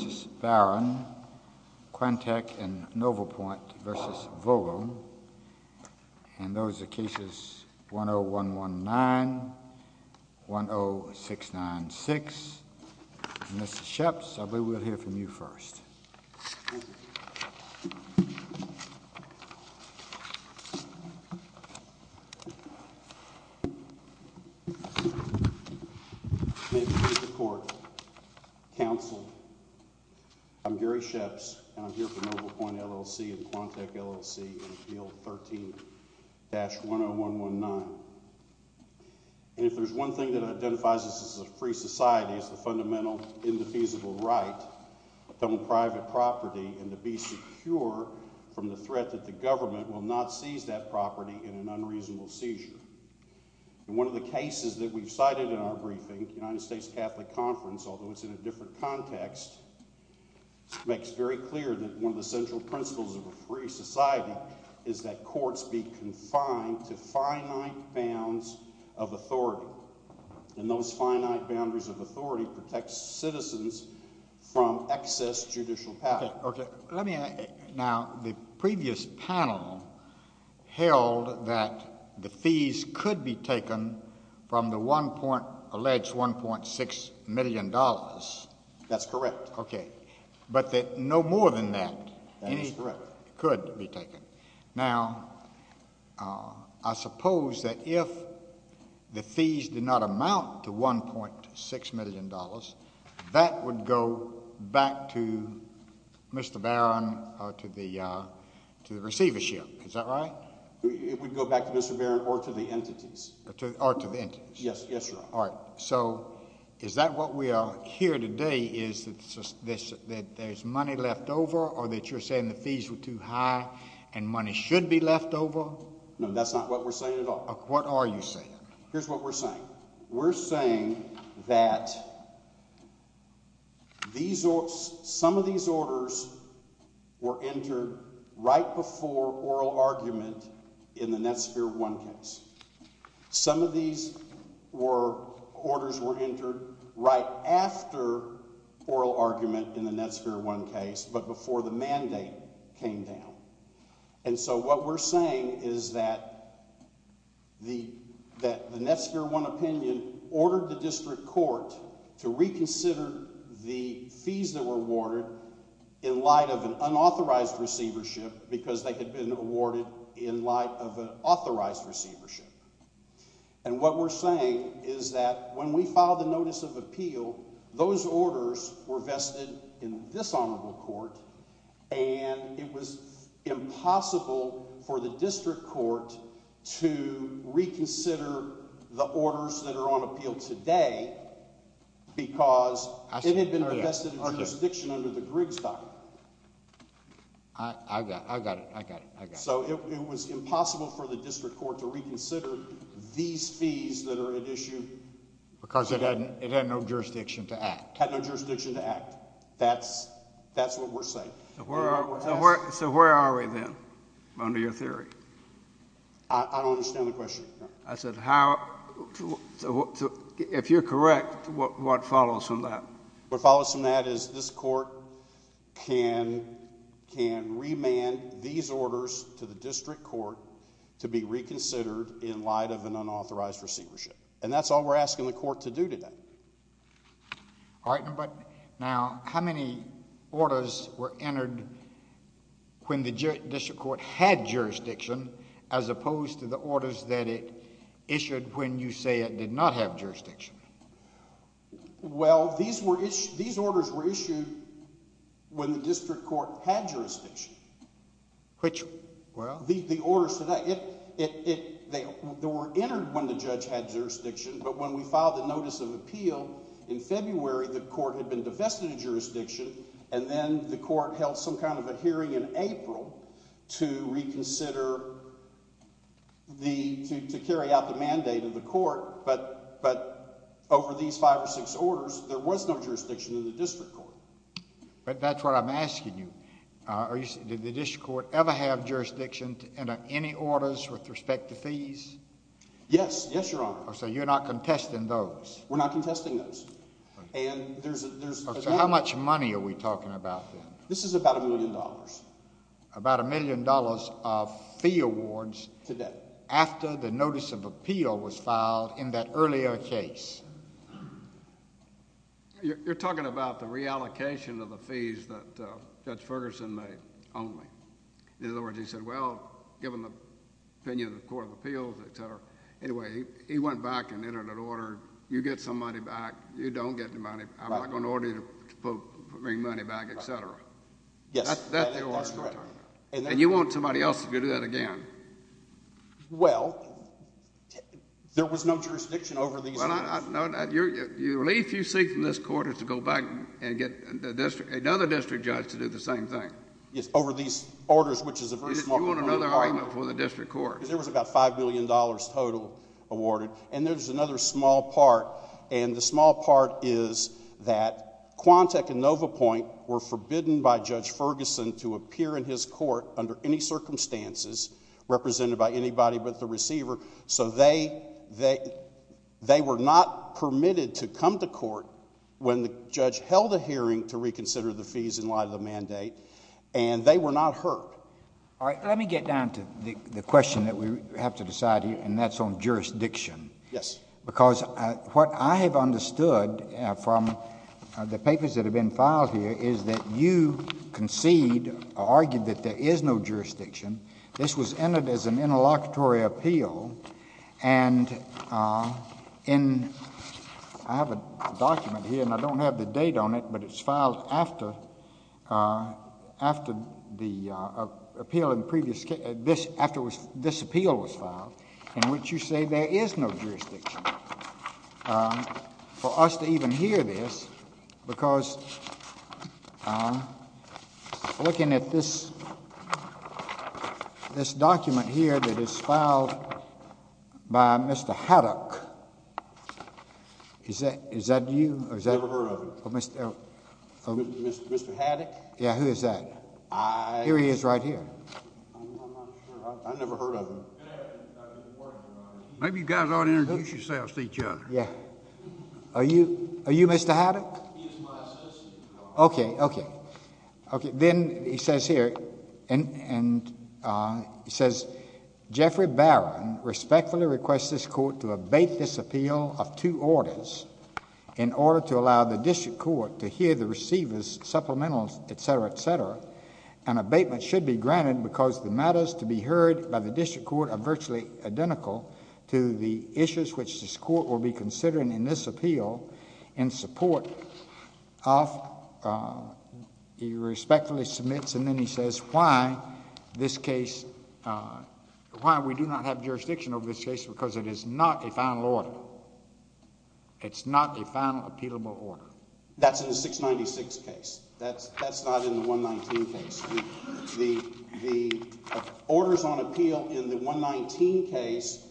Quantech and Novopoint v. Vogel, and those are Cases 10-119, 10-696, and Mr. Scheps, I believe we'll hear from you first. May it please the Court, Counsel, I'm Gary Scheps, and I'm here for Novopoint LLC and Quantech LLC in Appeal 13-10119. And if there's one thing that identifies us as a free society, it's the fundamental, indefeasible right to own private property and to be secure from the threat that the government will not seize that property in an unreasonable seizure. And one of the cases that we've cited in our briefing, the United States Catholic Conference, although it's in a different context, makes very clear that one of the central principles of a free society is that courts be confined to finite bounds of authority. And those finite boundaries of authority protect citizens from excess judicial power. Now, the previous panel held that the fees could be taken from the alleged $1.6 million. That's correct. Okay. But that no more than that could be taken. Now, I suppose that if the fees did not amount to $1.6 million, that would go back to Mr. Barron or to the receivership. Is that right? It would go back to Mr. Barron or to the entities. Or to the entities. Yes, yes, Your Honor. All right. So is that what we are here today is that there's money left over or that you're saying the fees were too high and money should be left over? No, that's not what we're saying at all. What are you saying? Here's what we're saying. We're saying that some of these orders were entered right before oral argument in the Netsphere 1 case. Some of these orders were entered right after oral argument in the Netsphere 1 case but before the mandate came down. And so what we're saying is that the Netsphere 1 opinion ordered the district court to reconsider the fees that were awarded in light of an unauthorized receivership because they had been awarded in light of an authorized receivership. And what we're saying is that when we filed the notice of appeal, those orders were vested in this honorable court and it was impossible for the district court to reconsider the orders that are on appeal today because it had been vested in jurisdiction under the Griggs document. I got it. I got it. I got it. So it was impossible for the district court to reconsider these fees that are at issue today. Because it had no jurisdiction to act. It had no jurisdiction to act. That's what we're saying. So where are we then, under your theory? I don't understand the question. If you're correct, what follows from that? What follows from that is this court can remand these orders to the district court to be reconsidered in light of an unauthorized receivership. And that's all we're asking the court to do today. All right, but now how many orders were entered when the district court had jurisdiction as opposed to the orders that it issued when you say it did not have jurisdiction? Well, these orders were issued when the district court had jurisdiction. Which, well? The orders today, they were entered when the judge had jurisdiction, but when we filed the notice of appeal in February, the court had been divested of jurisdiction. And then the court held some kind of a hearing in April to reconsider, to carry out the mandate of the court. But over these five or six orders, there was no jurisdiction in the district court. But that's what I'm asking you. Did the district court ever have jurisdiction to enter any orders with respect to fees? Yes, yes, Your Honor. So you're not contesting those? We're not contesting those. Okay, so how much money are we talking about then? This is about a million dollars. About a million dollars of fee awards after the notice of appeal was filed in that earlier case. You're talking about the reallocation of the fees that Judge Ferguson made only. In other words, he said, well, given the opinion of the Court of Appeals, et cetera, anyway, he went back and entered an order. You get some money back. You don't get the money. I'm not going to order you to bring money back, et cetera. Yes, that's correct. And you want somebody else to do that again. Well, there was no jurisdiction over these orders. The relief you seek from this court is to go back and get another district judge to do the same thing. Yes, over these orders, which is a very small amount of money. You want another argument for the district court. There was about $5 million total awarded. And there's another small part, and the small part is that Quantec and NovaPoint were forbidden by Judge Ferguson to appear in his court under any circumstances represented by anybody but the receiver. So they were not permitted to come to court when the judge held a hearing to reconsider the fees in light of the mandate, and they were not hurt. All right, let me get down to the question that we have to decide here, and that's on jurisdiction. Yes. Because what I have understood from the papers that have been filed here is that you concede or argued that there is no jurisdiction. This was entered as an interlocutory appeal, and I have a document here, and I don't have the date on it, but it's filed after this appeal was filed, in which you say there is no jurisdiction. For us to even hear this, because looking at this document here that is filed by Mr. Haddock, is that you? I've never heard of him. Mr. Haddock? Yeah, who is that? Here he is right here. I'm not sure. I've never heard of him. Maybe you guys ought to introduce yourselves to each other. Yeah. Are you Mr. Haddock? He's my assistant. Okay, okay. Then he says here, he says, Jeffrey Barron respectfully requests this court to abate this appeal of two orders in order to allow the district court to hear the receiver's supplementals, etc., etc., and abatement should be granted because the matters to be heard by the district court are virtually identical to the issues which this court will be considering in this appeal in support of, he respectfully submits and then he says why this case, why we do not have jurisdiction over this case because it is not a final order. It's not a final appealable order. That's in the 696 case. That's not in the 119 case. The orders on appeal in the 119 case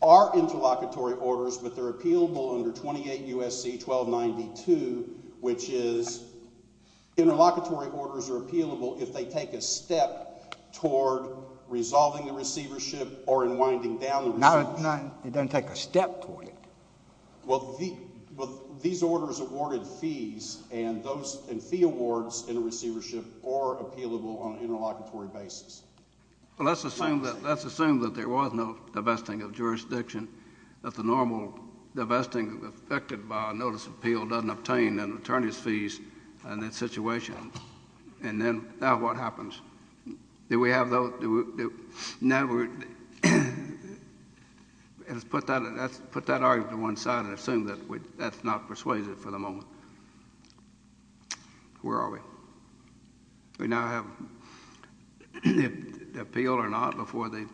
are interlocutory orders but they're appealable under 28 U.S.C. 1292 which is interlocutory orders are appealable if they take a step toward resolving the receivership or in winding down the receivership. It doesn't take a step toward it. Well, these orders awarded fees and those fee awards in a receivership are appealable on an interlocutory basis. Well, let's assume that there was no divesting of jurisdiction that the normal divesting affected by a notice of appeal doesn't obtain an attorney's fees in that situation. And then now what happens? Do we have those? Now we're... let's put that argument to one side and assume that that's not persuaded for the moment. Where are we? We now have the appeal or not before they......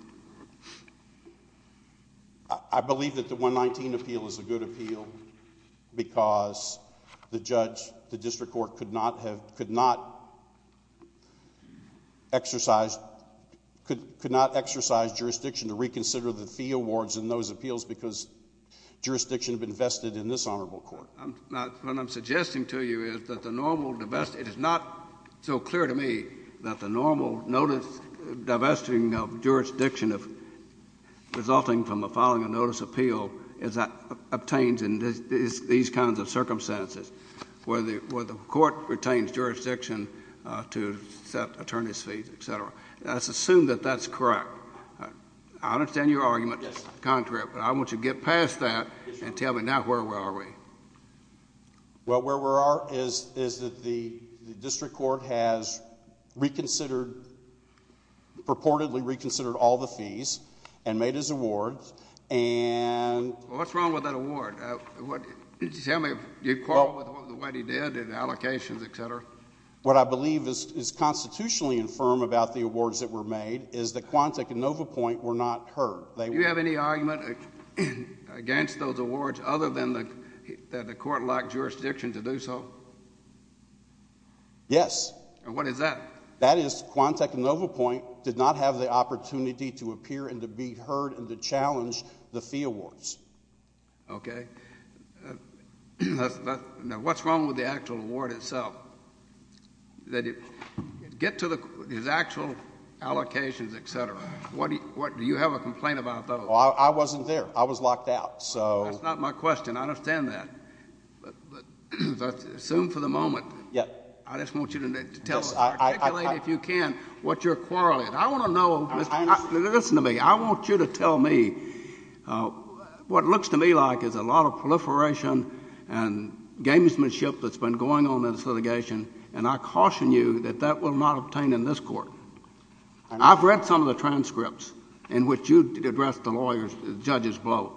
exercise... could not exercise jurisdiction to reconsider the fee awards in those appeals because jurisdiction had been vested in this honorable court. What I'm suggesting to you is that the normal divest... it is not so clear to me that the normal notice divesting of jurisdiction resulting from a following a notice of appeal is obtained in these kinds of circumstances. Where the court retains jurisdiction to set attorney's fees, et cetera. Let's assume that that's correct. I understand your argument, but I want you to get past that and tell me now where we are. Well, where we are is that the district court has reconsidered... purportedly reconsidered all the fees and made his awards and... What's wrong with that award? Tell me if you'd quarrel with what he did in allocations, et cetera. What I believe is constitutionally infirm about the awards that were made is that Quantic and Novapoint were not heard. Do you have any argument against those awards other than the court lacked jurisdiction to do so? Yes. And what is that? That is Quantic and Novapoint did not have the opportunity to appear and to be heard and to challenge the fee awards. Okay. Now, what's wrong with the actual award itself? Get to his actual allocations, et cetera. Do you have a complaint about those? Well, I wasn't there. I was locked out, so... That's not my question. I understand that. But assume for the moment... Yes. I just want you to articulate, if you can, what your quarrel is. I want to know... Listen to me. I want you to tell me what looks to me like is a lot of proliferation and gamesmanship that's been going on in this litigation, and I caution you that that will not obtain in this court. I've read some of the transcripts in which you addressed the lawyer's... judge's blow.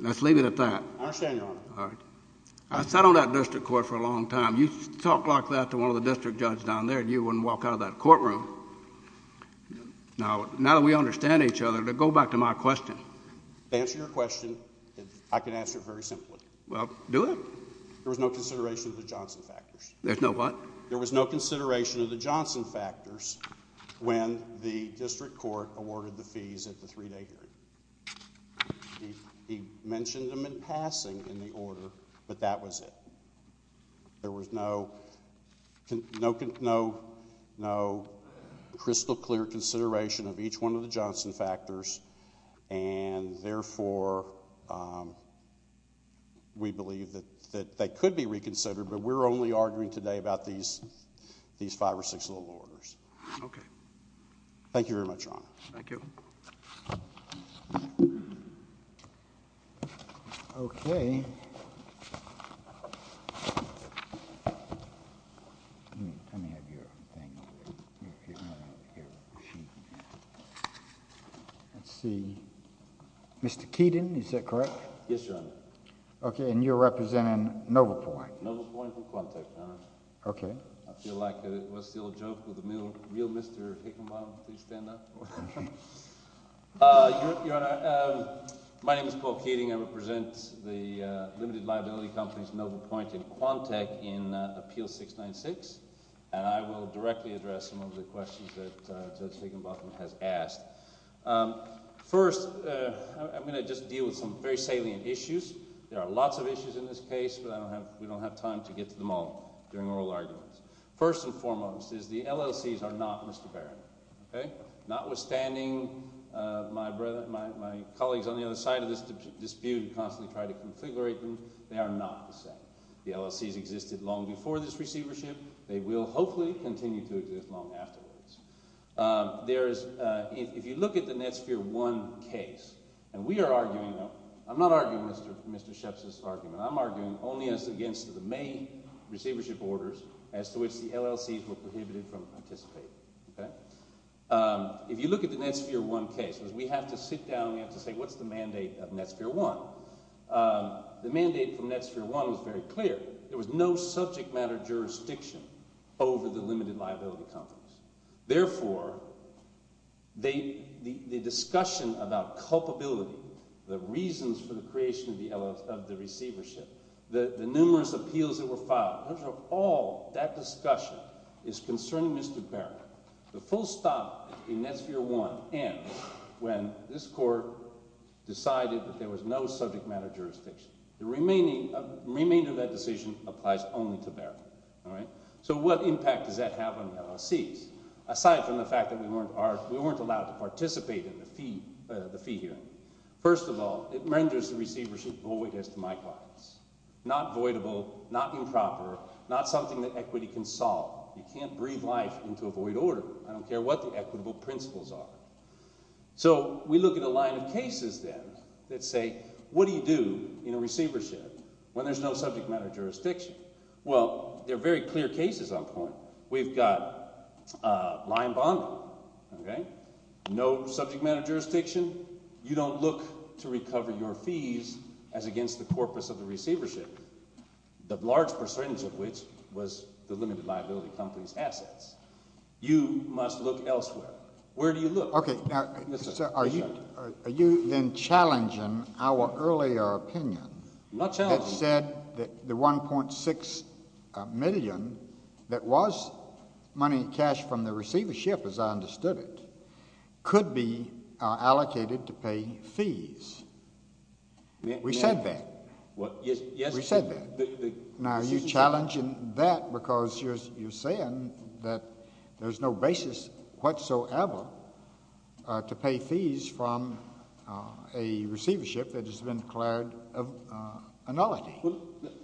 Let's leave it at that. I understand, Your Honor. All right. I sat on that district court for a long time. You talk like that to one of the district judges down there, and you wouldn't walk out of that courtroom. Now that we understand each other, go back to my question. To answer your question, I can answer it very simply. Well, do it. There was no consideration of the Johnson factors. There's no what? There was no consideration of the Johnson factors when the district court awarded the fees at the three-day hearing. He mentioned them in passing in the order, but that was it. There was no crystal clear consideration of each one of the Johnson factors, and therefore we believe that they could be reconsidered, but we're only arguing today about these five or six little orders. Thank you very much, Your Honor. Thank you. Thank you. Okay. Let's see. Mr. Keaton, is that correct? Yes, Your Honor. Okay, and you're representing Noble Point. Noble Point and Quantech, Your Honor. Okay. I feel like it was the old joke with the real Mr. Higginbotham. Please stand up. Your Honor, my name is Paul Keating. I represent the limited liability companies Noble Point and Quantech in Appeal 696, and I will directly address some of the questions that Judge Higginbotham has asked. First, I'm going to just deal with some very salient issues. There are lots of issues in this case, but we don't have time to get to them all during oral arguments. First and foremost is the LLCs are not Mr. Barron, okay? Notwithstanding, my colleagues on the other side of this dispute constantly try to configurate them. They are not the same. The LLCs existed long before this receivership. They will hopefully continue to exist long afterwards. If you look at the Netsphere 1 case, and we are arguing— I'm not arguing Mr. Sheps's argument. I'm arguing only against the May receivership orders as to which the LLCs were prohibited from participating. Okay? If you look at the Netsphere 1 case, we have to sit down and we have to say what's the mandate of Netsphere 1? The mandate from Netsphere 1 was very clear. There was no subject matter jurisdiction over the limited liability companies. Therefore, the discussion about culpability, the reasons for the creation of the receivership, the numerous appeals that were filed, all that discussion is concerning Mr. Barron. The full stop in Netsphere 1 ends when this court decided that there was no subject matter jurisdiction. The remainder of that decision applies only to Barron. All right? So what impact does that have on the LLCs? Aside from the fact that we weren't allowed to participate in the fee hearing. First of all, it renders the receivership void as to my clients. Not voidable, not improper, not something that equity can solve. You can't breathe life into a void order. I don't care what the equitable principles are. So we look at a line of cases then that say, what do you do in a receivership when there's no subject matter jurisdiction? Well, there are very clear cases on point. We've got a line bond, okay? No subject matter jurisdiction. You don't look to recover your fees as against the corpus of the receivership, the large percentage of which was the limited liability company's assets. You must look elsewhere. Where do you look? Are you then challenging our earlier opinion that said the $1.6 million that was money in cash from the receivership, as I understood it, could be allocated to pay fees? We said that. We said that. Now, are you challenging that because you're saying that there's no basis whatsoever to pay fees from a receivership that has been declared a nullity?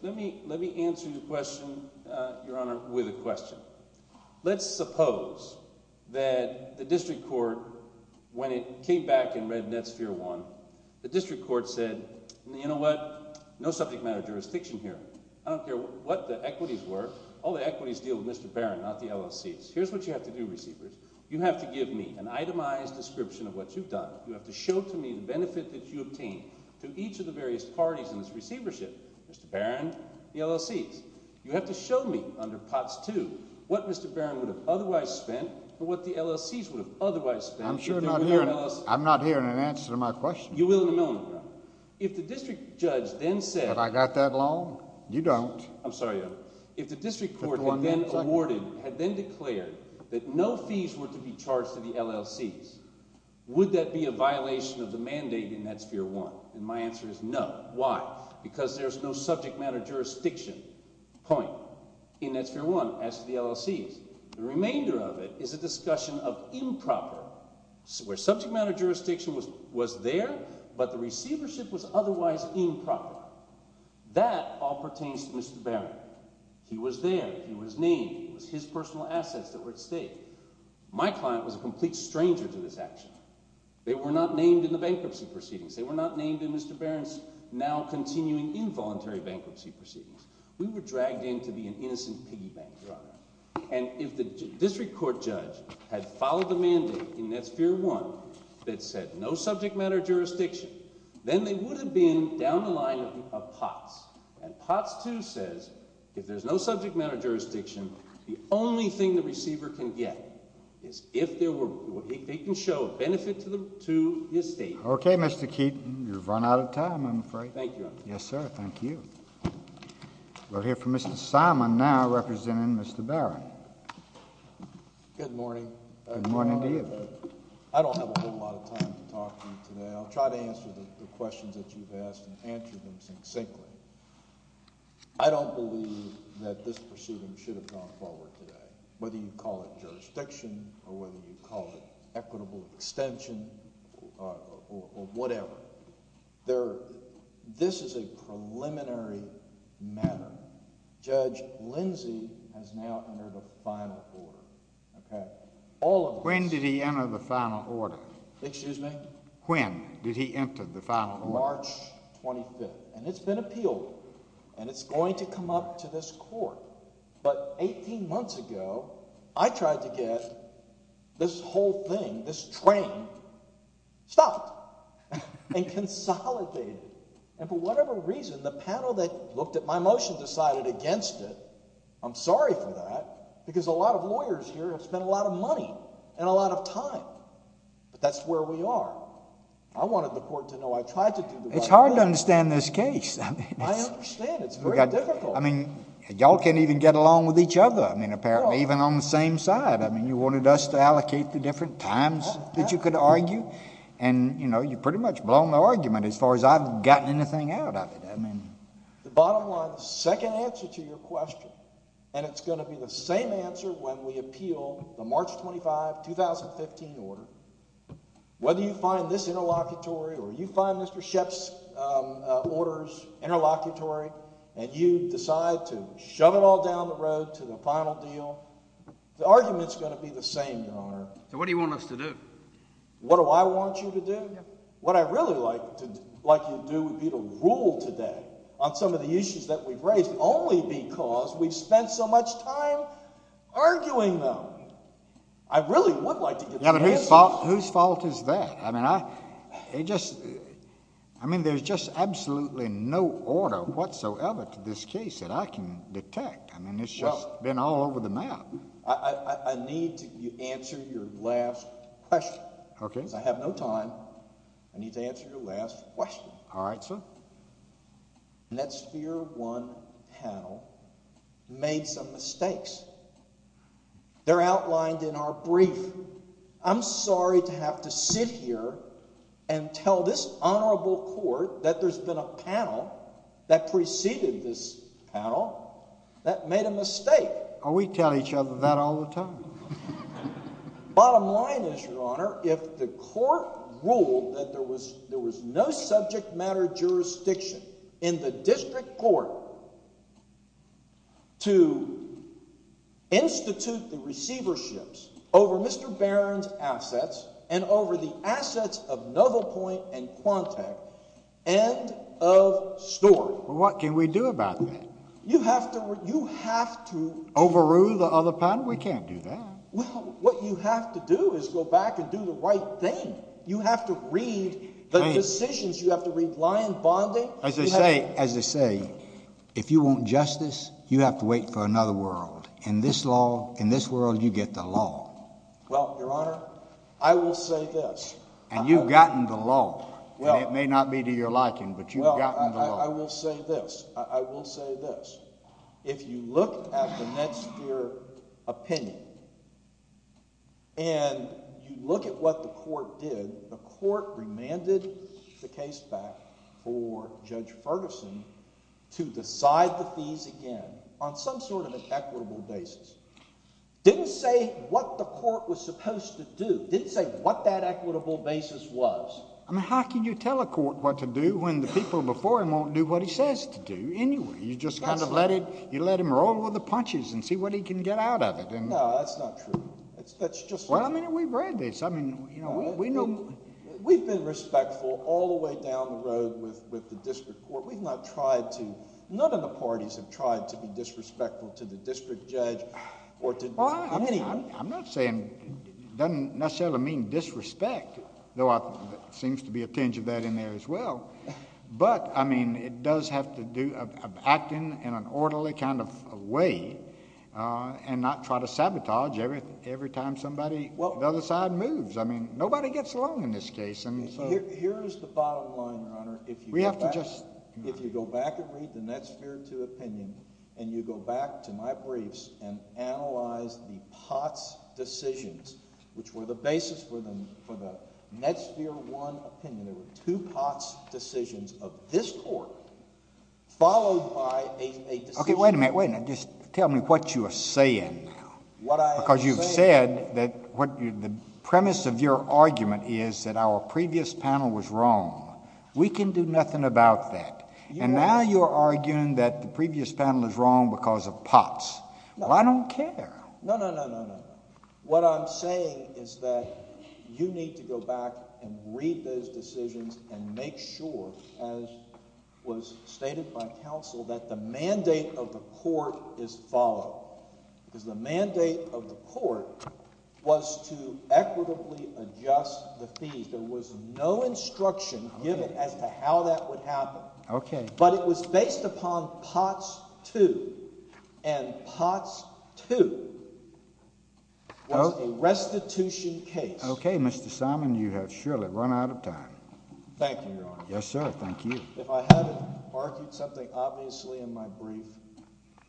Let me answer your question, Your Honor, with a question. Let's suppose that the district court, when it came back and read Netsphere 1, the district court said, you know what? No subject matter jurisdiction here. I don't care what the equities were. All the equities deal with Mr. Barron, not the LLCs. Here's what you have to do, receivers. You have to give me an itemized description of what you've done. You have to show to me the benefit that you obtain to each of the various parties in this receivership, Mr. Barron, the LLCs. You have to show me under Parts 2 what Mr. Barron would have otherwise spent or what the LLCs would have otherwise spent. I'm not hearing an answer to my question. You will in a moment, Your Honor. If the district judge then said— Have I got that long? You don't. I'm sorry, Your Honor. If the district court had then declared that no fees were to be charged to the LLCs, would that be a violation of the mandate in Netsphere 1? And my answer is no. Why? Because there's no subject matter jurisdiction point in Netsphere 1 as to the LLCs. The remainder of it is a discussion of improper, where subject matter jurisdiction was there, but the receivership was otherwise improper. That all pertains to Mr. Barron. He was there. He was named. It was his personal assets that were at stake. My client was a complete stranger to this action. They were not named in the bankruptcy proceedings. They were not named in Mr. Barron's now-continuing involuntary bankruptcy proceedings. We were dragged in to be an innocent piggy bank, Your Honor. And if the district court judge had followed the mandate in Netsphere 1 that said no subject matter jurisdiction, then they would have been down the line of POTS. And POTS 2 says if there's no subject matter jurisdiction, the only thing the receiver can get is if there were—they can show a benefit to the estate. OK, Mr. Keaton. You've run out of time, I'm afraid. Thank you, Your Honor. Yes, sir. Thank you. We'll hear from Mr. Simon now, representing Mr. Barron. Good morning. Good morning to you. I don't have a whole lot of time to talk to you today. I'll try to answer the questions that you've asked and answer them succinctly. I don't believe that this proceeding should have gone forward today, whether you call it jurisdiction or whether you call it equitable extension or whatever. This is a preliminary matter. Judge Lindsey has now entered a final order. When did he enter the final order? Excuse me? When did he enter the final order? March 25th. And it's been appealed. And it's going to come up to this Court. But 18 months ago, I tried to get this whole thing, this train, stopped and consolidated. And for whatever reason, the panel that looked at my motion decided against it. I'm sorry for that because a lot of lawyers here have spent a lot of money and a lot of time. But that's where we are. It's hard to understand this case. I understand. It's very difficult. I mean, y'all can't even get along with each other, I mean, apparently, even on the same side. I mean, you wanted us to allocate the different times that you could argue. And, you know, you pretty much blown the argument as far as I've gotten anything out of it. The bottom line, the second answer to your question, and it's going to be the same answer when we appeal the March 25, 2015 order, whether you find this interlocutory or you find Mr. Shep's orders interlocutory and you decide to shove it all down the road to the final deal, the argument is going to be the same, Your Honor. So what do you want us to do? What do I want you to do? What I'd really like you to do would be to rule today on some of the issues that we've raised only because we've spent so much time arguing them. I really would like to get some answers. Yeah, but whose fault is that? I mean, there's just absolutely no order whatsoever to this case that I can detect. I mean, it's just been all over the map. I need to answer your last question. Okay. Because I have no time. I need to answer your last question. All right, sir. And that's here one panel made some mistakes. They're outlined in our brief. I'm sorry to have to sit here and tell this honorable court that there's been a panel that preceded this panel that made a mistake. Oh, we tell each other that all the time. Bottom line is, Your Honor, if the court ruled that there was no subject matter jurisdiction in the district court to institute the receiverships over Mr. Barron's assets and over the assets of Novo Point and Quantec, end of story. Well, what can we do about that? You have to overrule the other panel. No, we can't do that. Well, what you have to do is go back and do the right thing. You have to read the decisions. You have to read Lyon bonding. As they say, if you want justice, you have to wait for another world. In this world, you get the law. Well, Your Honor, I will say this. And you've gotten the law. And it may not be to your liking, but you've gotten the law. Well, I will say this. If you look at the Netsphere opinion and you look at what the court did, the court remanded the case back for Judge Ferguson to decide the fees again on some sort of an equitable basis. Didn't say what the court was supposed to do. Didn't say what that equitable basis was. I mean, how can you tell a court what to do when the people before him won't do what he says to do anyway? You just kind of let him roll with the punches and see what he can get out of it. No, that's not true. That's just not true. Well, I mean, we've read this. I mean, we know. We've been respectful all the way down the road with the district court. We've not tried to. None of the parties have tried to be disrespectful to the district judge or to anyone. I'm not saying it doesn't necessarily mean disrespect, though there seems to be a tinge of that in there as well. But, I mean, it does have to do with acting in an orderly kind of way and not try to sabotage every time somebody on the other side moves. I mean, nobody gets along in this case. Here's the bottom line, Your Honor. If you go back and read the Netsphere 2 opinion and you go back to my briefs and analyze the Potts decisions, which were the basis for the Netsphere 1 opinion, there were two Potts decisions of this court followed by a decision. Okay, wait a minute. Wait a minute. Just tell me what you are saying now. Because you've said that the premise of your argument is that our previous panel was wrong. We can do nothing about that. And now you're arguing that the previous panel is wrong because of Potts. Well, I don't care. No, no, no, no, no. What I'm saying is that you need to go back and read those decisions and make sure, as was stated by counsel, that the mandate of the court is followed. Because the mandate of the court was to equitably adjust the fees. There was no instruction given as to how that would happen. Okay. But it was based upon Potts 2. And Potts 2 was a restitution case. Okay, Mr. Simon, you have surely run out of time. Thank you, Your Honor. Yes, sir. Thank you. If I hadn't argued something obviously in my brief,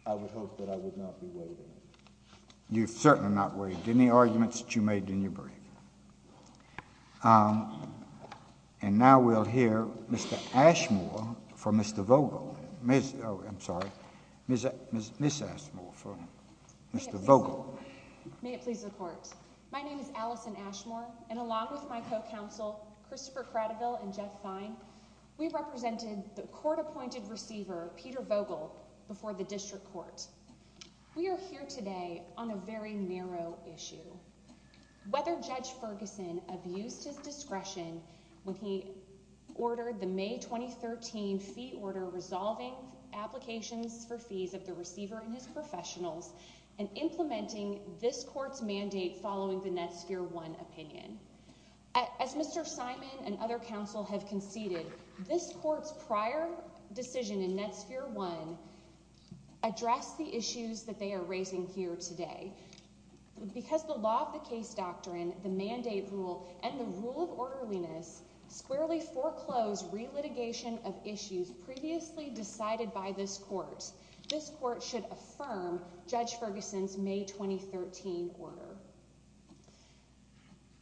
I would hope that I would not be waiving it. You've certainly not waived any arguments that you made in your brief. And now we'll hear Ms. Ashmore from Mr. Vogel. Oh, I'm sorry. Ms. Ashmore from Mr. Vogel. May it please the court. My name is Allison Ashmore, and along with my co-counsel, Christopher Cradeville and Jeff Fine, we represented the court-appointed receiver, Peter Vogel, before the district court. We are here today on a very narrow issue. Whether Judge Ferguson abused his discretion when he ordered the May 2013 fee order resolving applications for fees of the receiver and his professionals and implementing this court's mandate following the Netsphere 1 opinion. As Mr. Simon and other counsel have conceded, this court's prior decision in Netsphere 1 addressed the issues that they are raising here today. Because the law of the case doctrine, the mandate rule, and the rule of orderliness squarely foreclose relitigation of issues previously decided by this court. This court should affirm Judge Ferguson's May 2013 order.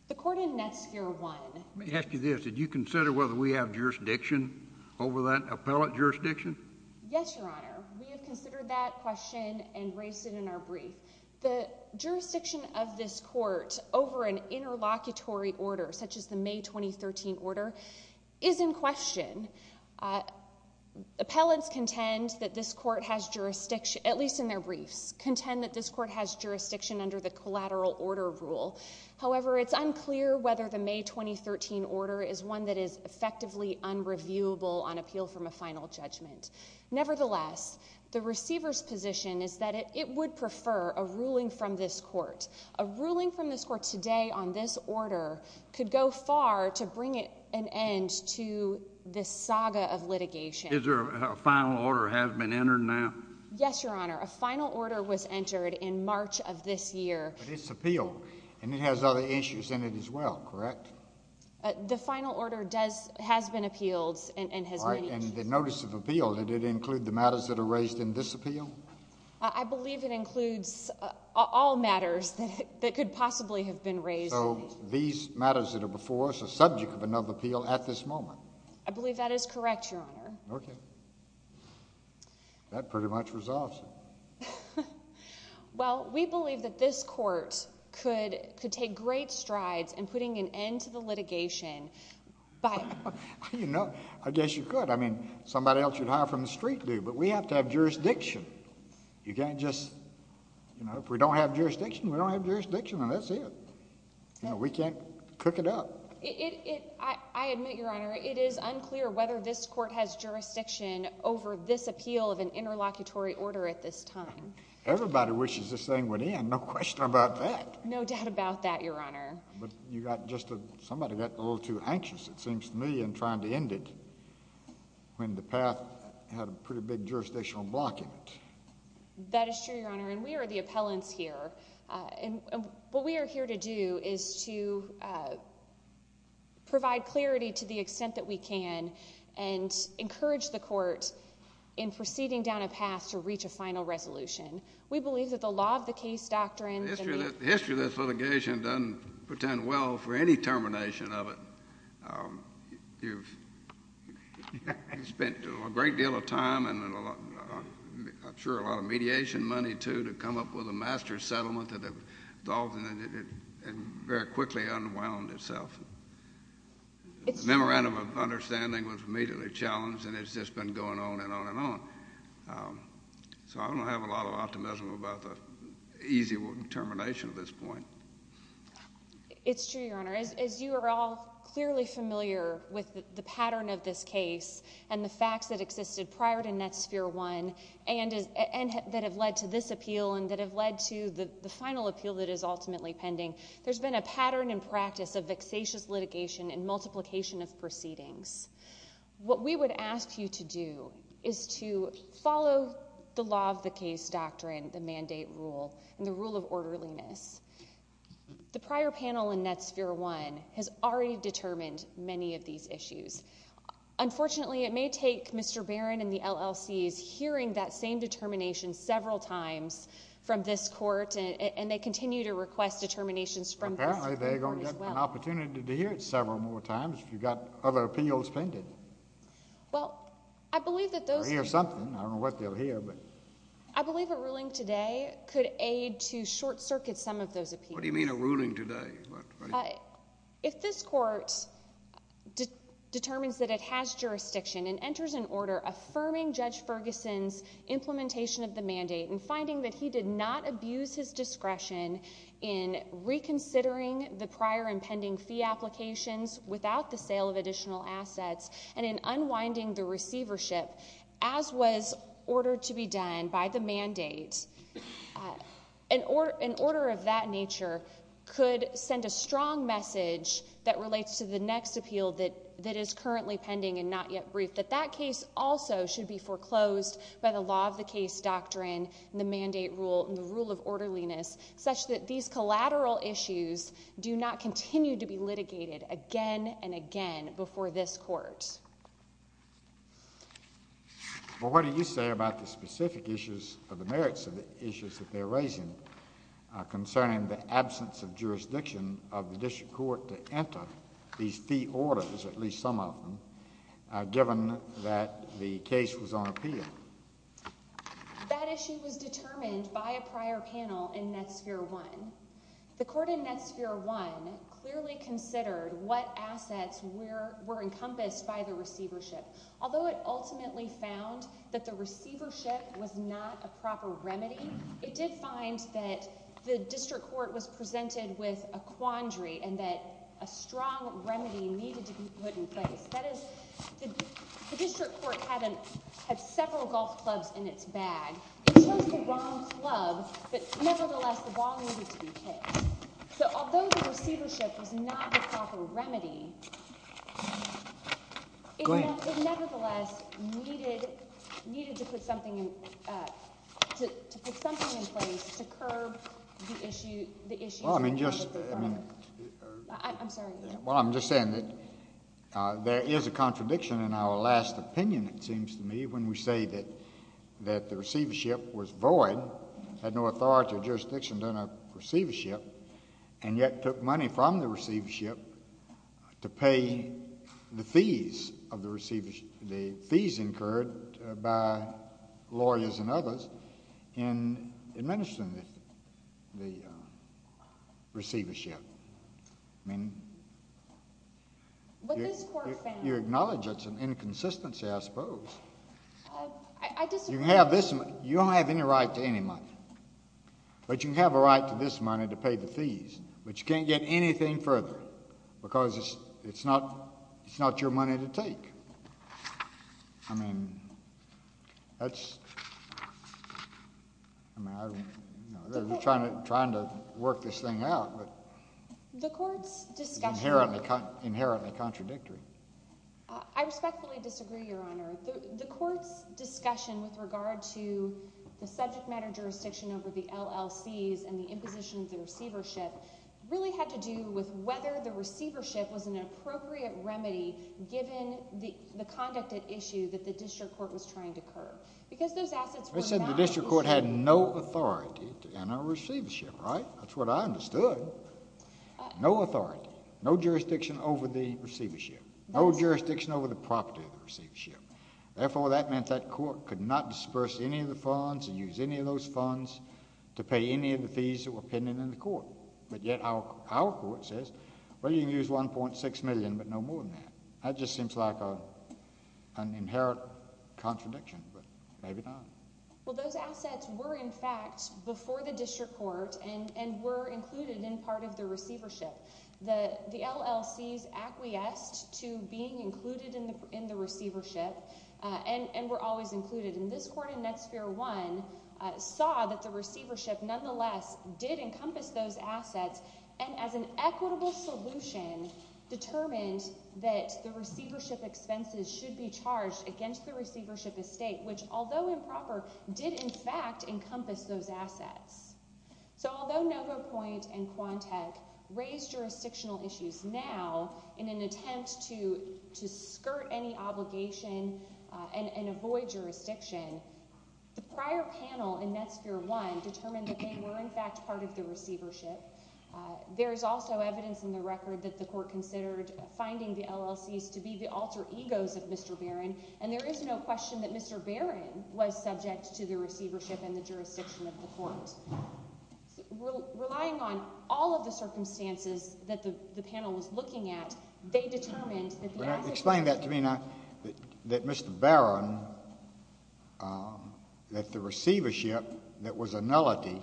The court in Netsphere 1. Let me ask you this. Did you consider whether we have jurisdiction over that appellate jurisdiction? Yes, Your Honor. We have considered that question and raised it in our brief. The jurisdiction of this court over an interlocutory order, such as the May 2013 order, is in question. Appellants contend that this court has jurisdiction, at least in their briefs, contend that this court has jurisdiction under the collateral order rule. However, it's unclear whether the May 2013 order is one that is effectively unreviewable on appeal from a final judgment. Nevertheless, the receiver's position is that it would prefer a ruling from this court. A ruling from this court today on this order could go far to bring an end to this saga of litigation. Is there a final order has been entered now? Yes, Your Honor. A final order was entered in March of this year. But it's appeal, and it has other issues in it as well, correct? The final order has been appealed and has many issues. In the notice of appeal, did it include the matters that are raised in this appeal? I believe it includes all matters that could possibly have been raised. So these matters that are before us are subject of another appeal at this moment? I believe that is correct, Your Honor. Okay. That pretty much resolves it. Well, we believe that this court could take great strides in putting an end to the litigation by— I guess you could. I mean, somebody else you'd hire from the street do. But we have to have jurisdiction. You can't just—if we don't have jurisdiction, we don't have jurisdiction, and that's it. We can't cook it up. I admit, Your Honor, it is unclear whether this court has jurisdiction over this appeal of an interlocutory order at this time. Everybody wishes this thing went in, no question about that. No doubt about that, Your Honor. But you got just a—somebody got a little too anxious, it seems to me, in trying to end it when the path had a pretty big jurisdictional block in it. That is true, Your Honor, and we are the appellants here. And what we are here to do is to provide clarity to the extent that we can and encourage the court in proceeding down a path to reach a final resolution. We believe that the law of the case doctrine— Well, the history of this litigation doesn't pretend well for any termination of it. You've spent a great deal of time and I'm sure a lot of mediation money, too, to come up with a master settlement that has all—and very quickly unwound itself. The memorandum of understanding was immediately challenged, and it's just been going on and on and on. So I don't have a lot of optimism about the easy termination at this point. It's true, Your Honor. As you are all clearly familiar with the pattern of this case and the facts that existed prior to Netsphere I and that have led to this appeal and that have led to the final appeal that is ultimately pending, there's been a pattern and practice of vexatious litigation and multiplication of proceedings. What we would ask you to do is to follow the law of the case doctrine, the mandate rule, and the rule of orderliness. The prior panel in Netsphere I has already determined many of these issues. Unfortunately, it may take Mr. Barron and the LLCs hearing that same determination several times from this court, and they continue to request determinations from this court as well. Apparently, they're going to get an opportunity to hear it several more times. You've got other opinions pending. Well, I believe that those— They'll hear something. I don't know what they'll hear, but— I believe a ruling today could aid to short-circuit some of those opinions. What do you mean a ruling today? If this court determines that it has jurisdiction and enters an order affirming Judge Ferguson's implementation of the mandate and finding that he did not abuse his discretion in reconsidering the prior and pending fee applications without the sale of additional assets and in unwinding the receivership, as was ordered to be done by the mandate, an order of that nature could send a strong message that relates to the next appeal that is currently pending and not yet briefed, that that case also should be foreclosed by the law of the case doctrine, the mandate rule, and the rule of orderliness, such that these collateral issues do not continue to be litigated again and again before this court. Well, what do you say about the specific issues or the merits of the issues that they're raising concerning the absence of jurisdiction of the district court to enter these fee orders, at least some of them, given that the case was on appeal? That issue was determined by a prior panel in Netsphere 1. The court in Netsphere 1 clearly considered what assets were encompassed by the receivership. Although it ultimately found that the receivership was not a proper remedy, it did find that the district court was presented with a quandary and that a strong remedy needed to be put in place. That is, the district court had several golf clubs in its bag. It chose the wrong club, but nevertheless the ball needed to be kicked. So although the receivership was not the proper remedy, it nevertheless needed to put something in place to curb the issues. Well, I'm just saying that there is a contradiction in our last opinion, it seems to me, when we say that the receivership was void, had no authority or jurisdiction in a receivership, and yet took money from the receivership to pay the fees of the receivership, the fees incurred by lawyers and others in administering the receivership. I mean, you acknowledge that's an inconsistency, I suppose. You don't have any right to any money, but you can have a right to this money to pay the fees, but you can't get anything further because it's not your money to take. I mean, that's—I mean, they're trying to work this thing out, but it's inherently contradictory. I respectfully disagree, Your Honor. The court's discussion with regard to the subject matter jurisdiction over the LLCs and the imposition of the receivership really had to do with whether the receivership was an appropriate remedy given the conduct at issue that the district court was trying to curb. Because those assets were not— I said the district court had no authority in a receivership, right? That's what I understood. No authority, no jurisdiction over the receivership, no jurisdiction over the property of the receivership. Therefore, that meant that court could not disperse any of the funds and use any of those funds to pay any of the fees that were pending in the court. But yet our court says, well, you can use $1.6 million, but no more than that. That just seems like an inherent contradiction, but maybe not. Well, those assets were, in fact, before the district court and were included in part of the receivership. The LLCs acquiesced to being included in the receivership and were always included. And this court in Netsphere 1 saw that the receivership nonetheless did encompass those assets and as an equitable solution determined that the receivership expenses should be charged against the receivership estate, which although improper, did in fact encompass those assets. So although NovoPoint and Quantec raised jurisdictional issues now in an attempt to skirt any obligation and avoid jurisdiction, the prior panel in Netsphere 1 determined that they were in fact part of the receivership. There is also evidence in the record that the court considered finding the LLCs to be the alter egos of Mr. Barron, and there is no question that Mr. Barron was subject to the receivership and the jurisdiction of the court. Relying on all of the circumstances that the panel was looking at, they determined that the assets— Explain that to me now, that Mr. Barron, that the receivership that was a nullity,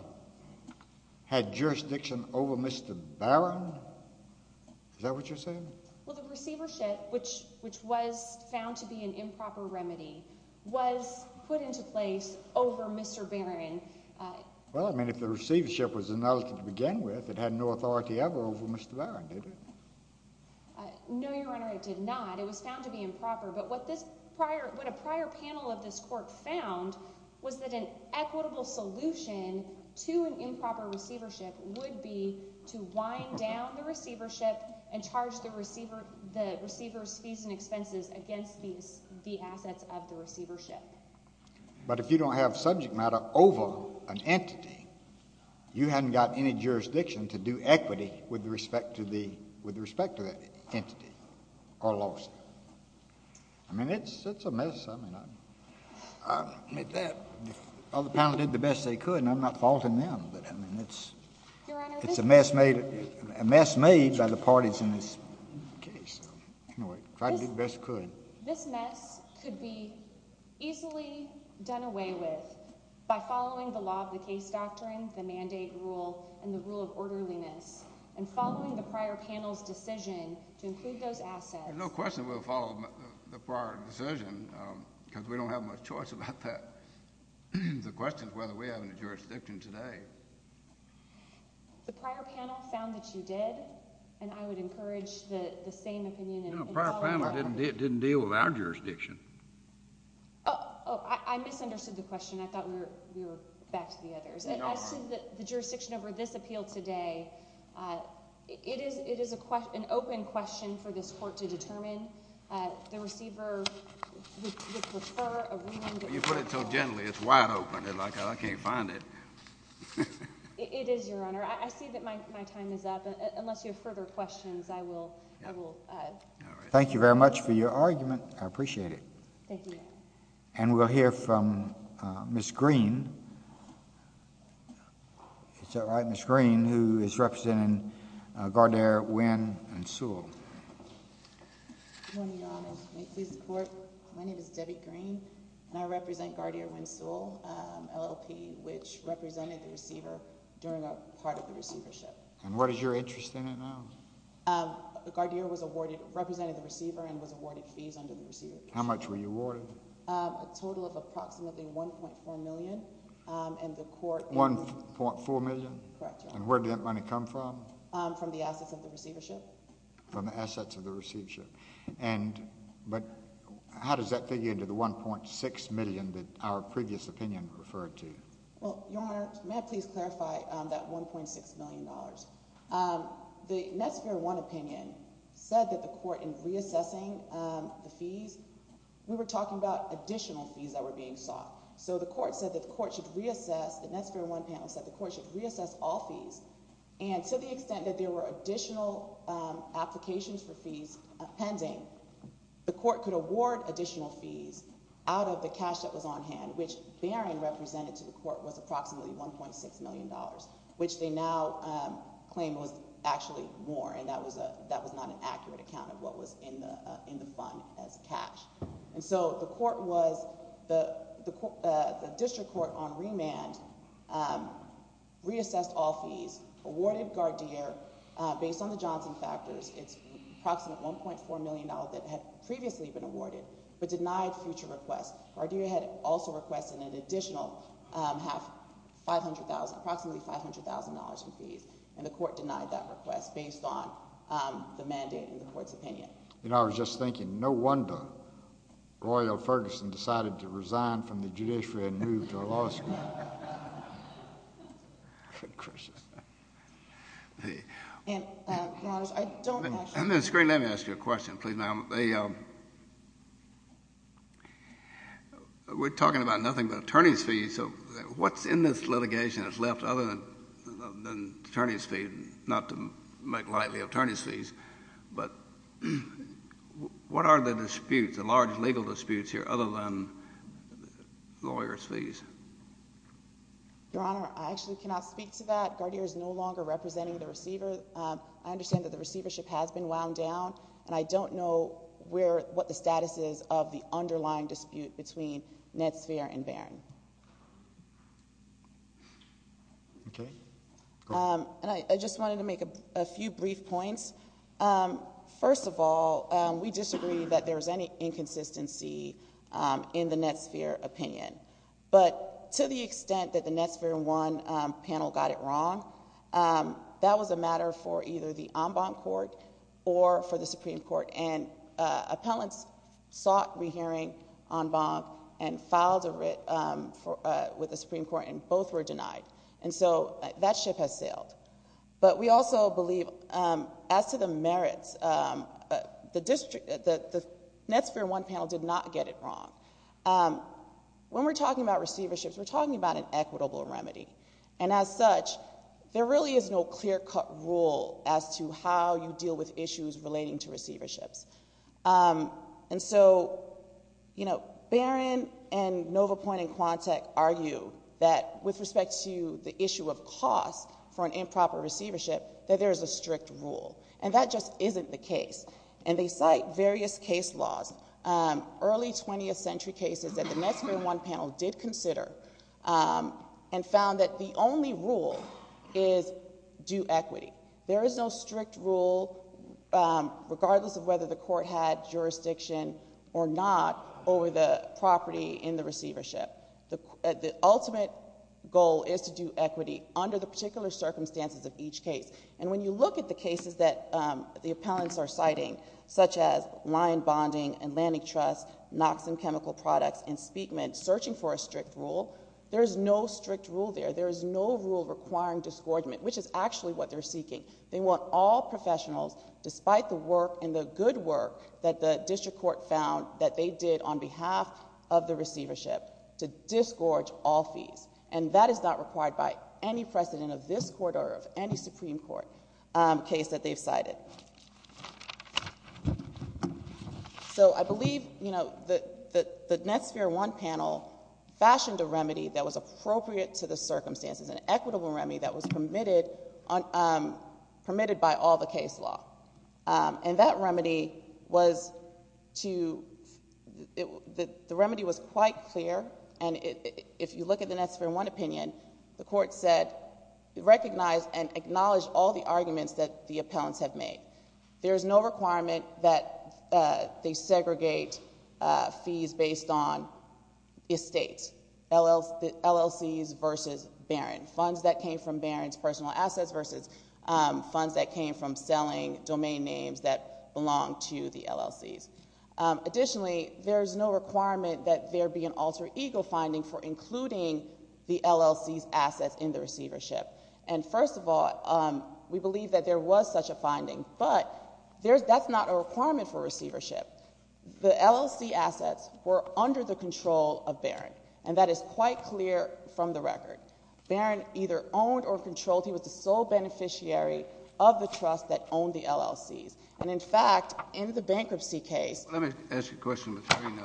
had jurisdiction over Mr. Barron? Is that what you're saying? Well, the receivership, which was found to be an improper remedy, was put into place over Mr. Barron. Well, I mean, if the receivership was a nullity to begin with, it had no authority ever over Mr. Barron, did it? No, Your Honor, it did not. It was found to be improper. But what a prior panel of this court found was that an equitable solution to an improper receivership would be to wind down the receivership and charge the receivers fees and expenses against the assets of the receivership. But if you don't have subject matter over an entity, you haven't got any jurisdiction to do equity with respect to that entity or lawsuit. I mean, it's a mess. I'll admit that. Well, the panel did the best they could, and I'm not faulting them, but I mean, it's a mess made by the parties in this case. Anyway, tried to do the best we could. This mess could be easily done away with by following the law of the case doctrine, the mandate rule, and the rule of orderliness, and following the prior panel's decision to include those assets— because we don't have much choice about that. The question is whether we have any jurisdiction today. The prior panel found that you did, and I would encourage the same opinion in following the law. No, the prior panel didn't deal with our jurisdiction. Oh, I misunderstood the question. I thought we were back to the others. No, Your Honor. As to the jurisdiction over this appeal today, it is an open question for this court to determine. The receiver would prefer a remand. You put it so gently. It's wide open. I can't find it. It is, Your Honor. I see that my time is up. Unless you have further questions, I will— Thank you very much for your argument. I appreciate it. Thank you, Your Honor. And we'll hear from Ms. Green. Is that right, Ms. Green, who is representing Gardair, Winn, and Sewell. Good morning, Your Honor. May it please the Court? My name is Debbie Green, and I represent Gardair, Winn, and Sewell, LLP, which represented the receiver during a part of the receivership. And what is your interest in it now? Gardair was awarded—represented the receiver and was awarded fees under the receivership. How much were you awarded? A total of approximately $1.4 million, and the Court— $1.4 million? Correct, Your Honor. And where did that money come from? From the assets of the receivership. From the assets of the receivership. And—but how does that figure into the $1.6 million that our previous opinion referred to? Well, Your Honor, may I please clarify that $1.6 million? The Netsphere One opinion said that the Court, in reassessing the fees, we were talking about additional fees that were being sought. So the Court said that the Court should reassess— the Netsphere One panel said the Court should reassess all fees. And to the extent that there were additional applications for fees pending, the Court could award additional fees out of the cash that was on hand, which Barron represented to the Court was approximately $1.6 million, which they now claim was actually more, and that was not an accurate account of what was in the fund as cash. And so the Court was—the District Court on remand reassessed all fees, awarded Gardeer, based on the Johnson factors, its approximate $1.4 million that had previously been awarded, but denied future requests. Gardeer had also requested an additional half—approximately $500,000 in fees, and the Court denied that request based on the mandate and the Court's opinion. You know, I was just thinking, no wonder Roy L. Ferguson decided to resign from the judiciary and move to law school. Your Honor, I don't actually— We're talking about nothing but attorney's fees, so what's in this litigation that's left other than attorney's fees, not to make lightly attorney's fees, but what are the disputes, the large legal disputes here, other than lawyer's fees? Your Honor, I actually cannot speak to that. Gardeer is no longer representing the receiver. I understand that the receivership has been wound down, and I don't know what the status is of the underlying dispute between Netsphere and Barron. I just wanted to make a few brief points. First of all, we disagree that there's any inconsistency in the Netsphere opinion, but to the extent that the Netsphere 1 panel got it wrong, that was a matter for either the en banc court or for the Supreme Court, and appellants sought rehearing en banc and filed a writ with the Supreme Court, and both were denied, and so that ship has sailed. But we also believe, as to the merits, the Netsphere 1 panel did not get it wrong. When we're talking about receiverships, we're talking about an equitable remedy, and as such, there really is no clear-cut rule as to how you deal with issues relating to receiverships. And so, you know, Barron and Novopoint and Quantec argue that with respect to the issue of cost for an improper receivership, that there is a strict rule, and that just isn't the case. And they cite various case laws, early 20th century cases, that the Netsphere 1 panel did consider and found that the only rule is due equity. There is no strict rule, regardless of whether the court had jurisdiction or not, over the property in the receivership. The ultimate goal is to do equity under the particular circumstances of each case. And when you look at the cases that the appellants are citing, such as line bonding and landing trust, Knox and Chemical Products, and Speakman, searching for a strict rule, there is no strict rule there. There is no rule requiring disgorgement, which is actually what they're seeking. They want all professionals, despite the work and the good work that the district court found that they did on behalf of the receivership, to disgorge all fees. And that is not required by any precedent of this court or of any Supreme Court case that they've cited. So I believe, you know, the Netsphere 1 panel fashioned a remedy that was appropriate to the circumstances, an equitable remedy that was permitted by all the case law. And that remedy was to — the remedy was quite clear. And if you look at the Netsphere 1 opinion, the court said it recognized and acknowledged all the arguments that the appellants have made. There is no requirement that they segregate fees based on estates, LLCs versus Barron, funds that came from Barron's personal assets versus funds that came from selling domain names that belonged to the LLCs. Additionally, there is no requirement that there be an alter ego finding for including the LLC's assets in the receivership. And, first of all, we believe that there was such a finding, but that's not a requirement for receivership. The LLC assets were under the control of Barron, and that is quite clear from the record. Barron either owned or controlled — he was the sole beneficiary of the trust that owned the LLCs. And, in fact, in the bankruptcy case — Let me ask you a question, Ms. Green.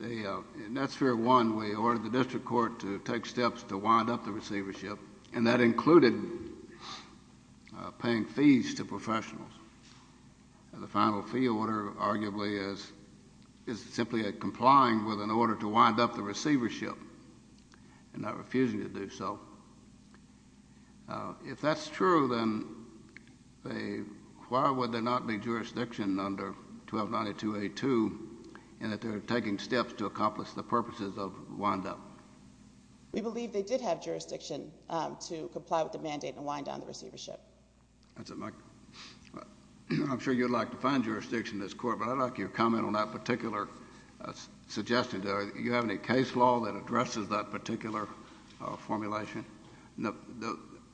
In Netsphere 1, we ordered the district court to take steps to wind up the receivership, and that included paying fees to professionals. The final fee order, arguably, is simply a complying with an order to wind up the receivership and not refusing to do so. If that's true, then why would there not be jurisdiction under 1292A2 in that they're taking steps to accomplish the purposes of windup? We believe they did have jurisdiction to comply with the mandate and wind down the receivership. That's it, Mike. I'm sure you'd like to find jurisdiction in this court, but I'd like your comment on that particular suggestion. Do you have any case law that addresses that particular formulation?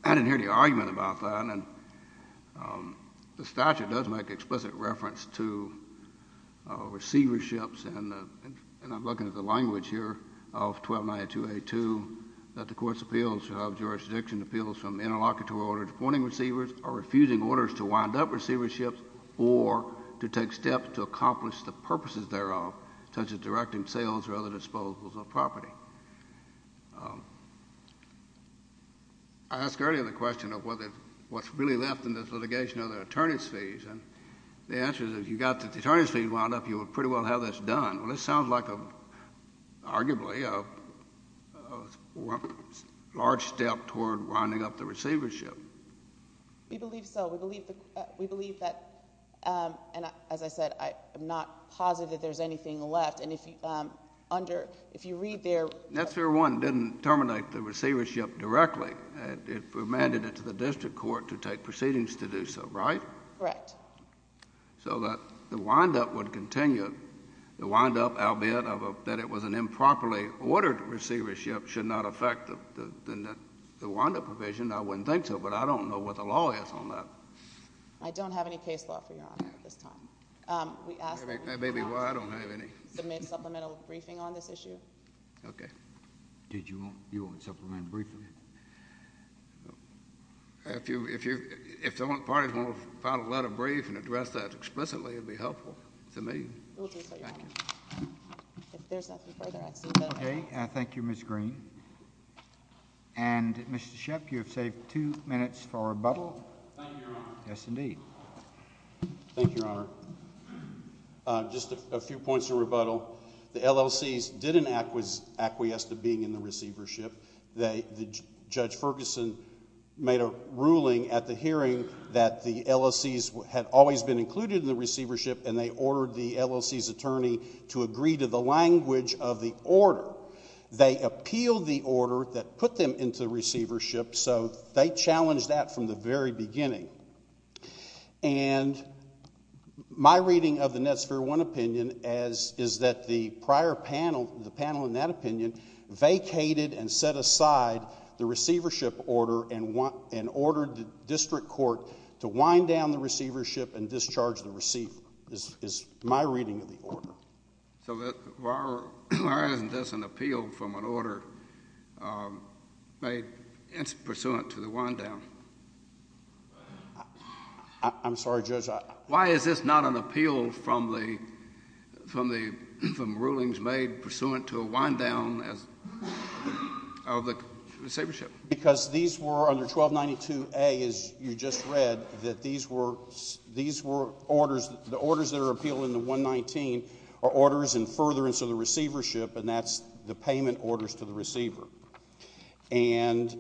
I didn't hear the argument about that. The statute does make explicit reference to receiverships, and I'm looking at the language here of 1292A2, that the court's appeals should have jurisdiction appeals from interlocutory order to pointing receivers or refusing orders to wind up receiverships or to take steps to accomplish the purposes thereof, such as directing sales or other disposals of property. I asked earlier the question of what's really left in this litigation are the attorneys' fees, and the answer is if you've got the attorneys' fees wound up, you would pretty well have this done. Well, this sounds like arguably a large step toward winding up the receivership. We believe so. We believe that, and as I said, I'm not positive there's anything left. And if you read there... That's where one didn't terminate the receivership directly. It was mandated to the district court to take proceedings to do so, right? Correct. So that the wind-up would continue. The wind-up, albeit that it was an improperly ordered receivership, should not affect the wind-up provision. I wouldn't think so, but I don't know what the law is on that. I don't have any case law for your honor at this time. That may be why I don't have any. Submit supplemental briefing on this issue. Okay. You want supplemental briefing? If the parties want to file a letter of briefing and address that explicitly, it would be helpful to me. We'll do so, your honor. Thank you. If there's nothing further, I assume that... Okay. Thank you, Ms. Green. And Mr. Shep, you have saved two minutes for rebuttal. Thank you, your honor. Yes, indeed. Thank you, your honor. Just a few points of rebuttal. The LLCs didn't acquiesce to being in the receivership. Judge Ferguson made a ruling at the hearing that the LLCs had always been included in the receivership, and they ordered the LLC's attorney to agree to the language of the order. They appealed the order that put them into the receivership, so they challenged that from the very beginning. And my reading of the Netsphere One opinion is that the prior panel, the panel in that opinion, vacated and set aside the receivership order and ordered the district court to wind down the receivership and discharge the receiver is my reading of the order. So why isn't this an appeal from an order made pursuant to the wind down? I'm sorry, Judge. Why is this not an appeal from rulings made pursuant to a wind down of the receivership? Because these were under 1292A, as you just read, that these were orders that are appealed in the 119 are orders in furtherance of the receivership, and that's the payment orders to the receiver. And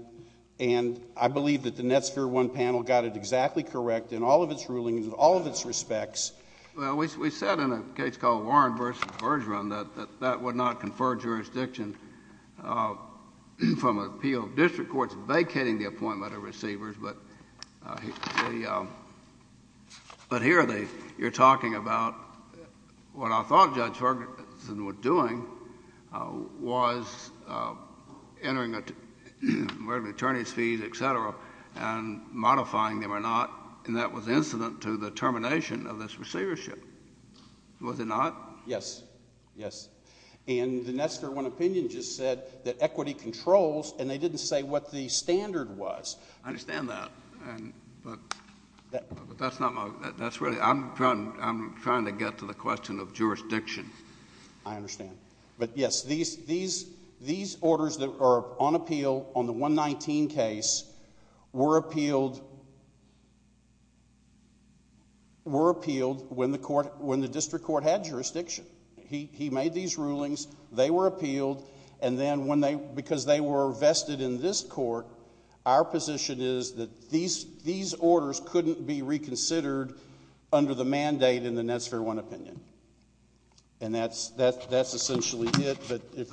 I believe that the Netsphere One panel got it exactly correct in all of its rulings, in all of its respects. Well, we said in a case called Warren v. Bergeron that that would not confer jurisdiction from appeal. The district court is vacating the appointment of receivers, but here you're talking about what I thought Judge Ferguson was doing was entering the attorneys' fees, et cetera, and modifying them or not. And that was incident to the termination of this receivership. Was it not? Yes. Yes. And the Netsphere One opinion just said that equity controls, and they didn't say what the standard was. I understand that, but that's not my—that's really— I'm trying to get to the question of jurisdiction. I understand. But, yes, these orders that are on appeal on the 119 case were appealed when the district court had jurisdiction. He made these rulings. They were appealed, and then because they were vested in this court, our position is that these orders couldn't be reconsidered under the mandate in the Netsphere One opinion. And that's essentially it, but if—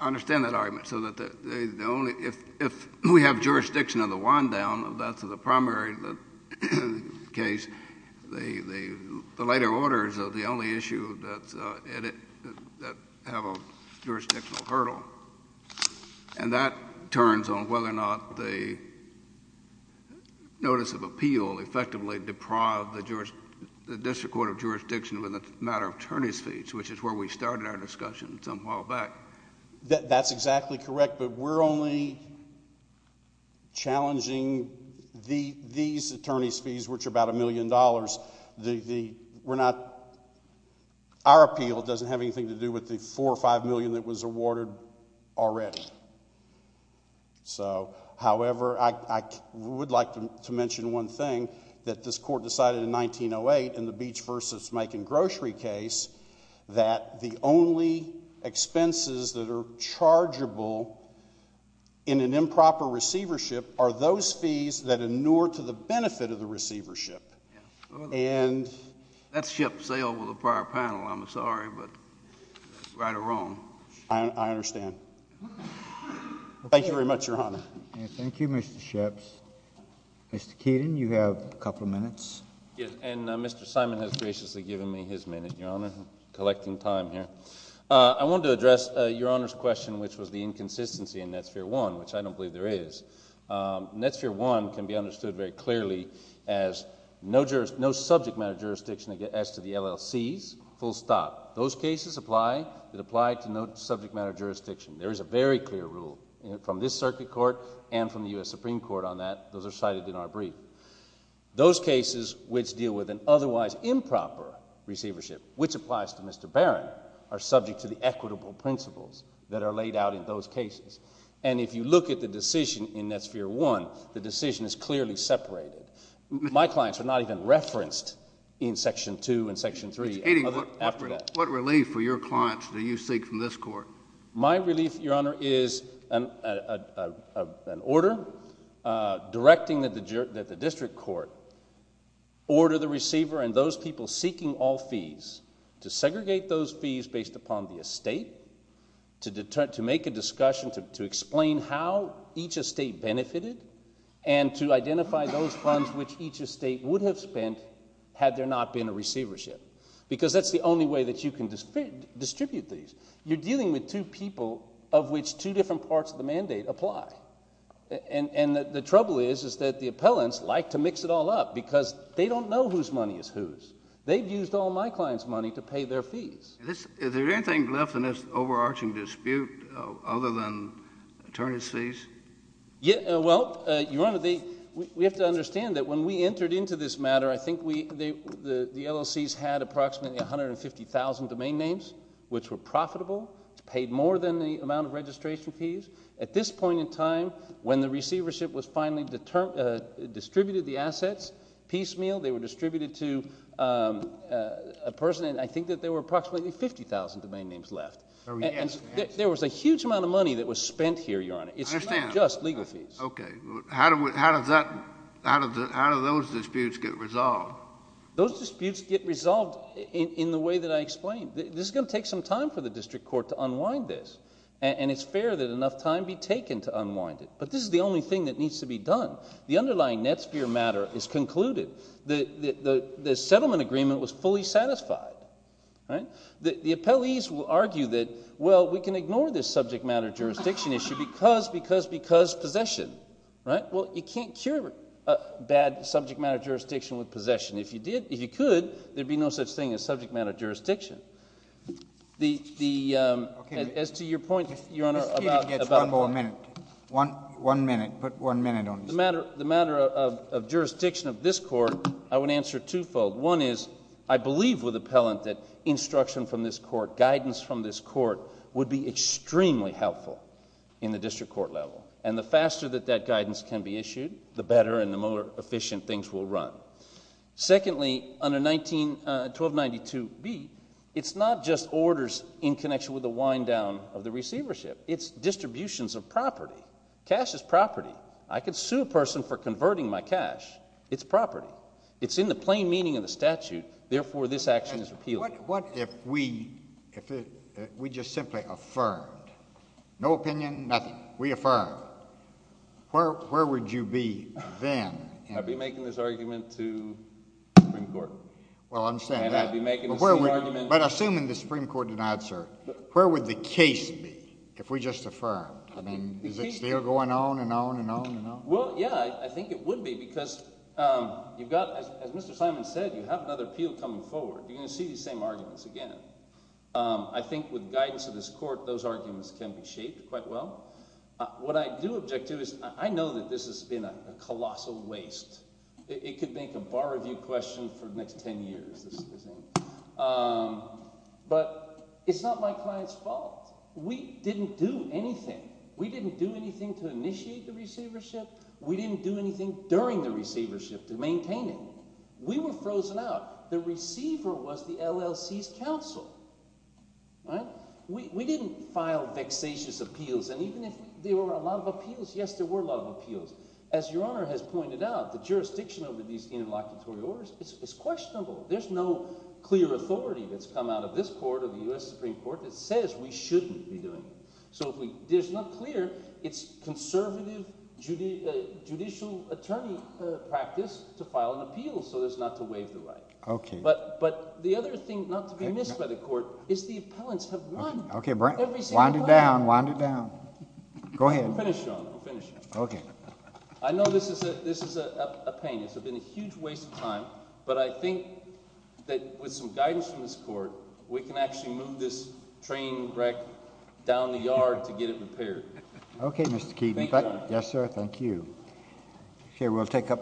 I understand that argument, so that the only— if we have jurisdiction of the wind-down of the primary case, the later orders are the only issue that have a jurisdictional hurdle. And that turns on whether or not the notice of appeal will effectively deprive the district court of jurisdiction when it's a matter of attorney's fees, which is where we started our discussion some while back. That's exactly correct, but we're only challenging these attorney's fees, which are about $1 million. We're not—our appeal doesn't have anything to do with the 4 or 5 million that was awarded already. So, however, I would like to mention one thing, that this court decided in 1908 in the Beach v. Macon grocery case that the only expenses that are chargeable in an improper receivership are those fees that inure to the benefit of the receivership. And— That ship sailed with a prior panel. I'm sorry, but it's right or wrong. I understand. Thank you very much, Your Honor. Thank you, Mr. Shipps. Mr. Keaton, you have a couple of minutes. And Mr. Simon has graciously given me his minute, Your Honor. I'm collecting time here. I wanted to address Your Honor's question, which was the inconsistency in Net Sphere 1, which I don't believe there is. Net Sphere 1 can be understood very clearly as no subject matter jurisdiction as to the LLCs, full stop. Those cases apply that apply to no subject matter jurisdiction. There is a very clear rule from this circuit court and from the U.S. Supreme Court on that. Those are cited in our brief. Those cases which deal with an otherwise improper receivership, which applies to Mr. Barron, are subject to the equitable principles that are laid out in those cases. And if you look at the decision in Net Sphere 1, the decision is clearly separated. My clients are not even referenced in Section 2 and Section 3. Mr. Keaton, what relief for your clients do you seek from this court? My relief, Your Honor, is an order directing that the district court order the receiver and those people seeking all fees to segregate those fees based upon the estate, to make a discussion to explain how each estate benefited, and to identify those funds which each estate would have spent had there not been a receivership. Because that's the only way that you can distribute these. You're dealing with two people of which two different parts of the mandate apply. And the trouble is that the appellants like to mix it all up because they don't know whose money is whose. They've used all my clients' money to pay their fees. Is there anything left in this overarching dispute other than attorneys' fees? Well, Your Honor, we have to understand that when we entered into this matter, I think the LLCs had approximately 150,000 domain names which were profitable, paid more than the amount of registration fees. At this point in time, when the receivership was finally distributed, the assets piecemeal, they were distributed to a person, and I think that there were approximately 50,000 domain names left. There was a huge amount of money that was spent here, Your Honor. It's not just legal fees. Okay. How do those disputes get resolved? Those disputes get resolved in the way that I explained. This is going to take some time for the district court to unwind this, and it's fair that enough time be taken to unwind it. But this is the only thing that needs to be done. The underlying Netsphere matter is concluded. The settlement agreement was fully satisfied. The appellees will argue that, well, we can ignore this subject matter jurisdiction issue because, because, because possession, right? Well, you can't cure a bad subject matter jurisdiction with possession. If you could, there would be no such thing as subject matter jurisdiction. As to your point, Your Honor. If Peter gets one more minute. One minute. Put one minute on this. The matter of jurisdiction of this court, I would answer twofold. One is I believe with appellant that instruction from this court, guidance from this court would be extremely helpful in the district court level. And the faster that that guidance can be issued, the better and the more efficient things will run. Secondly, under 1292B, it's not just orders in connection with the wind down of the receivership. It's distributions of property. Cash is property. I could sue a person for converting my cash. It's property. It's in the plain meaning of the statute. Therefore, this action is repealed. What if we just simply affirmed? No opinion, nothing. We affirmed. Where would you be then? I'd be making this argument to the Supreme Court. Well, I understand that. And I'd be making the same argument. But assuming the Supreme Court denied, sir, where would the case be if we just affirmed? I mean, is it still going on and on and on and on? Well, yeah. I think it would be because you've got, as Mr. Simon said, you have another appeal coming forward. You're going to see these same arguments again. I think with guidance of this court, those arguments can be shaped quite well. What I do object to is I know that this has been a colossal waste. It could make a bar review question for the next ten years. But it's not my client's fault. We didn't do anything. We didn't do anything to initiate the receivership. We didn't do anything during the receivership to maintain it. We were frozen out. The receiver was the LLC's counsel. We didn't file vexatious appeals. And even if there were a lot of appeals, yes, there were a lot of appeals. As Your Honor has pointed out, the jurisdiction over these interlocutory orders is questionable. There's no clear authority that's come out of this court or the U.S. Supreme Court that says we shouldn't be doing it. It's not clear. It's conservative judicial attorney practice to file an appeal so as not to waive the right. But the other thing not to be missed by the court is the appellants have won. Wound it down, wound it down. Go ahead. I'm finished, Your Honor. I'm finished. It's been a huge waste of time. But I think that with some guidance from this court, we can actually move this train wreck down the yard to get it repaired. Okay, Mr. Keaton. Thank you, Your Honor. Yes, sir. Thank you. Okay, we'll take up the floor.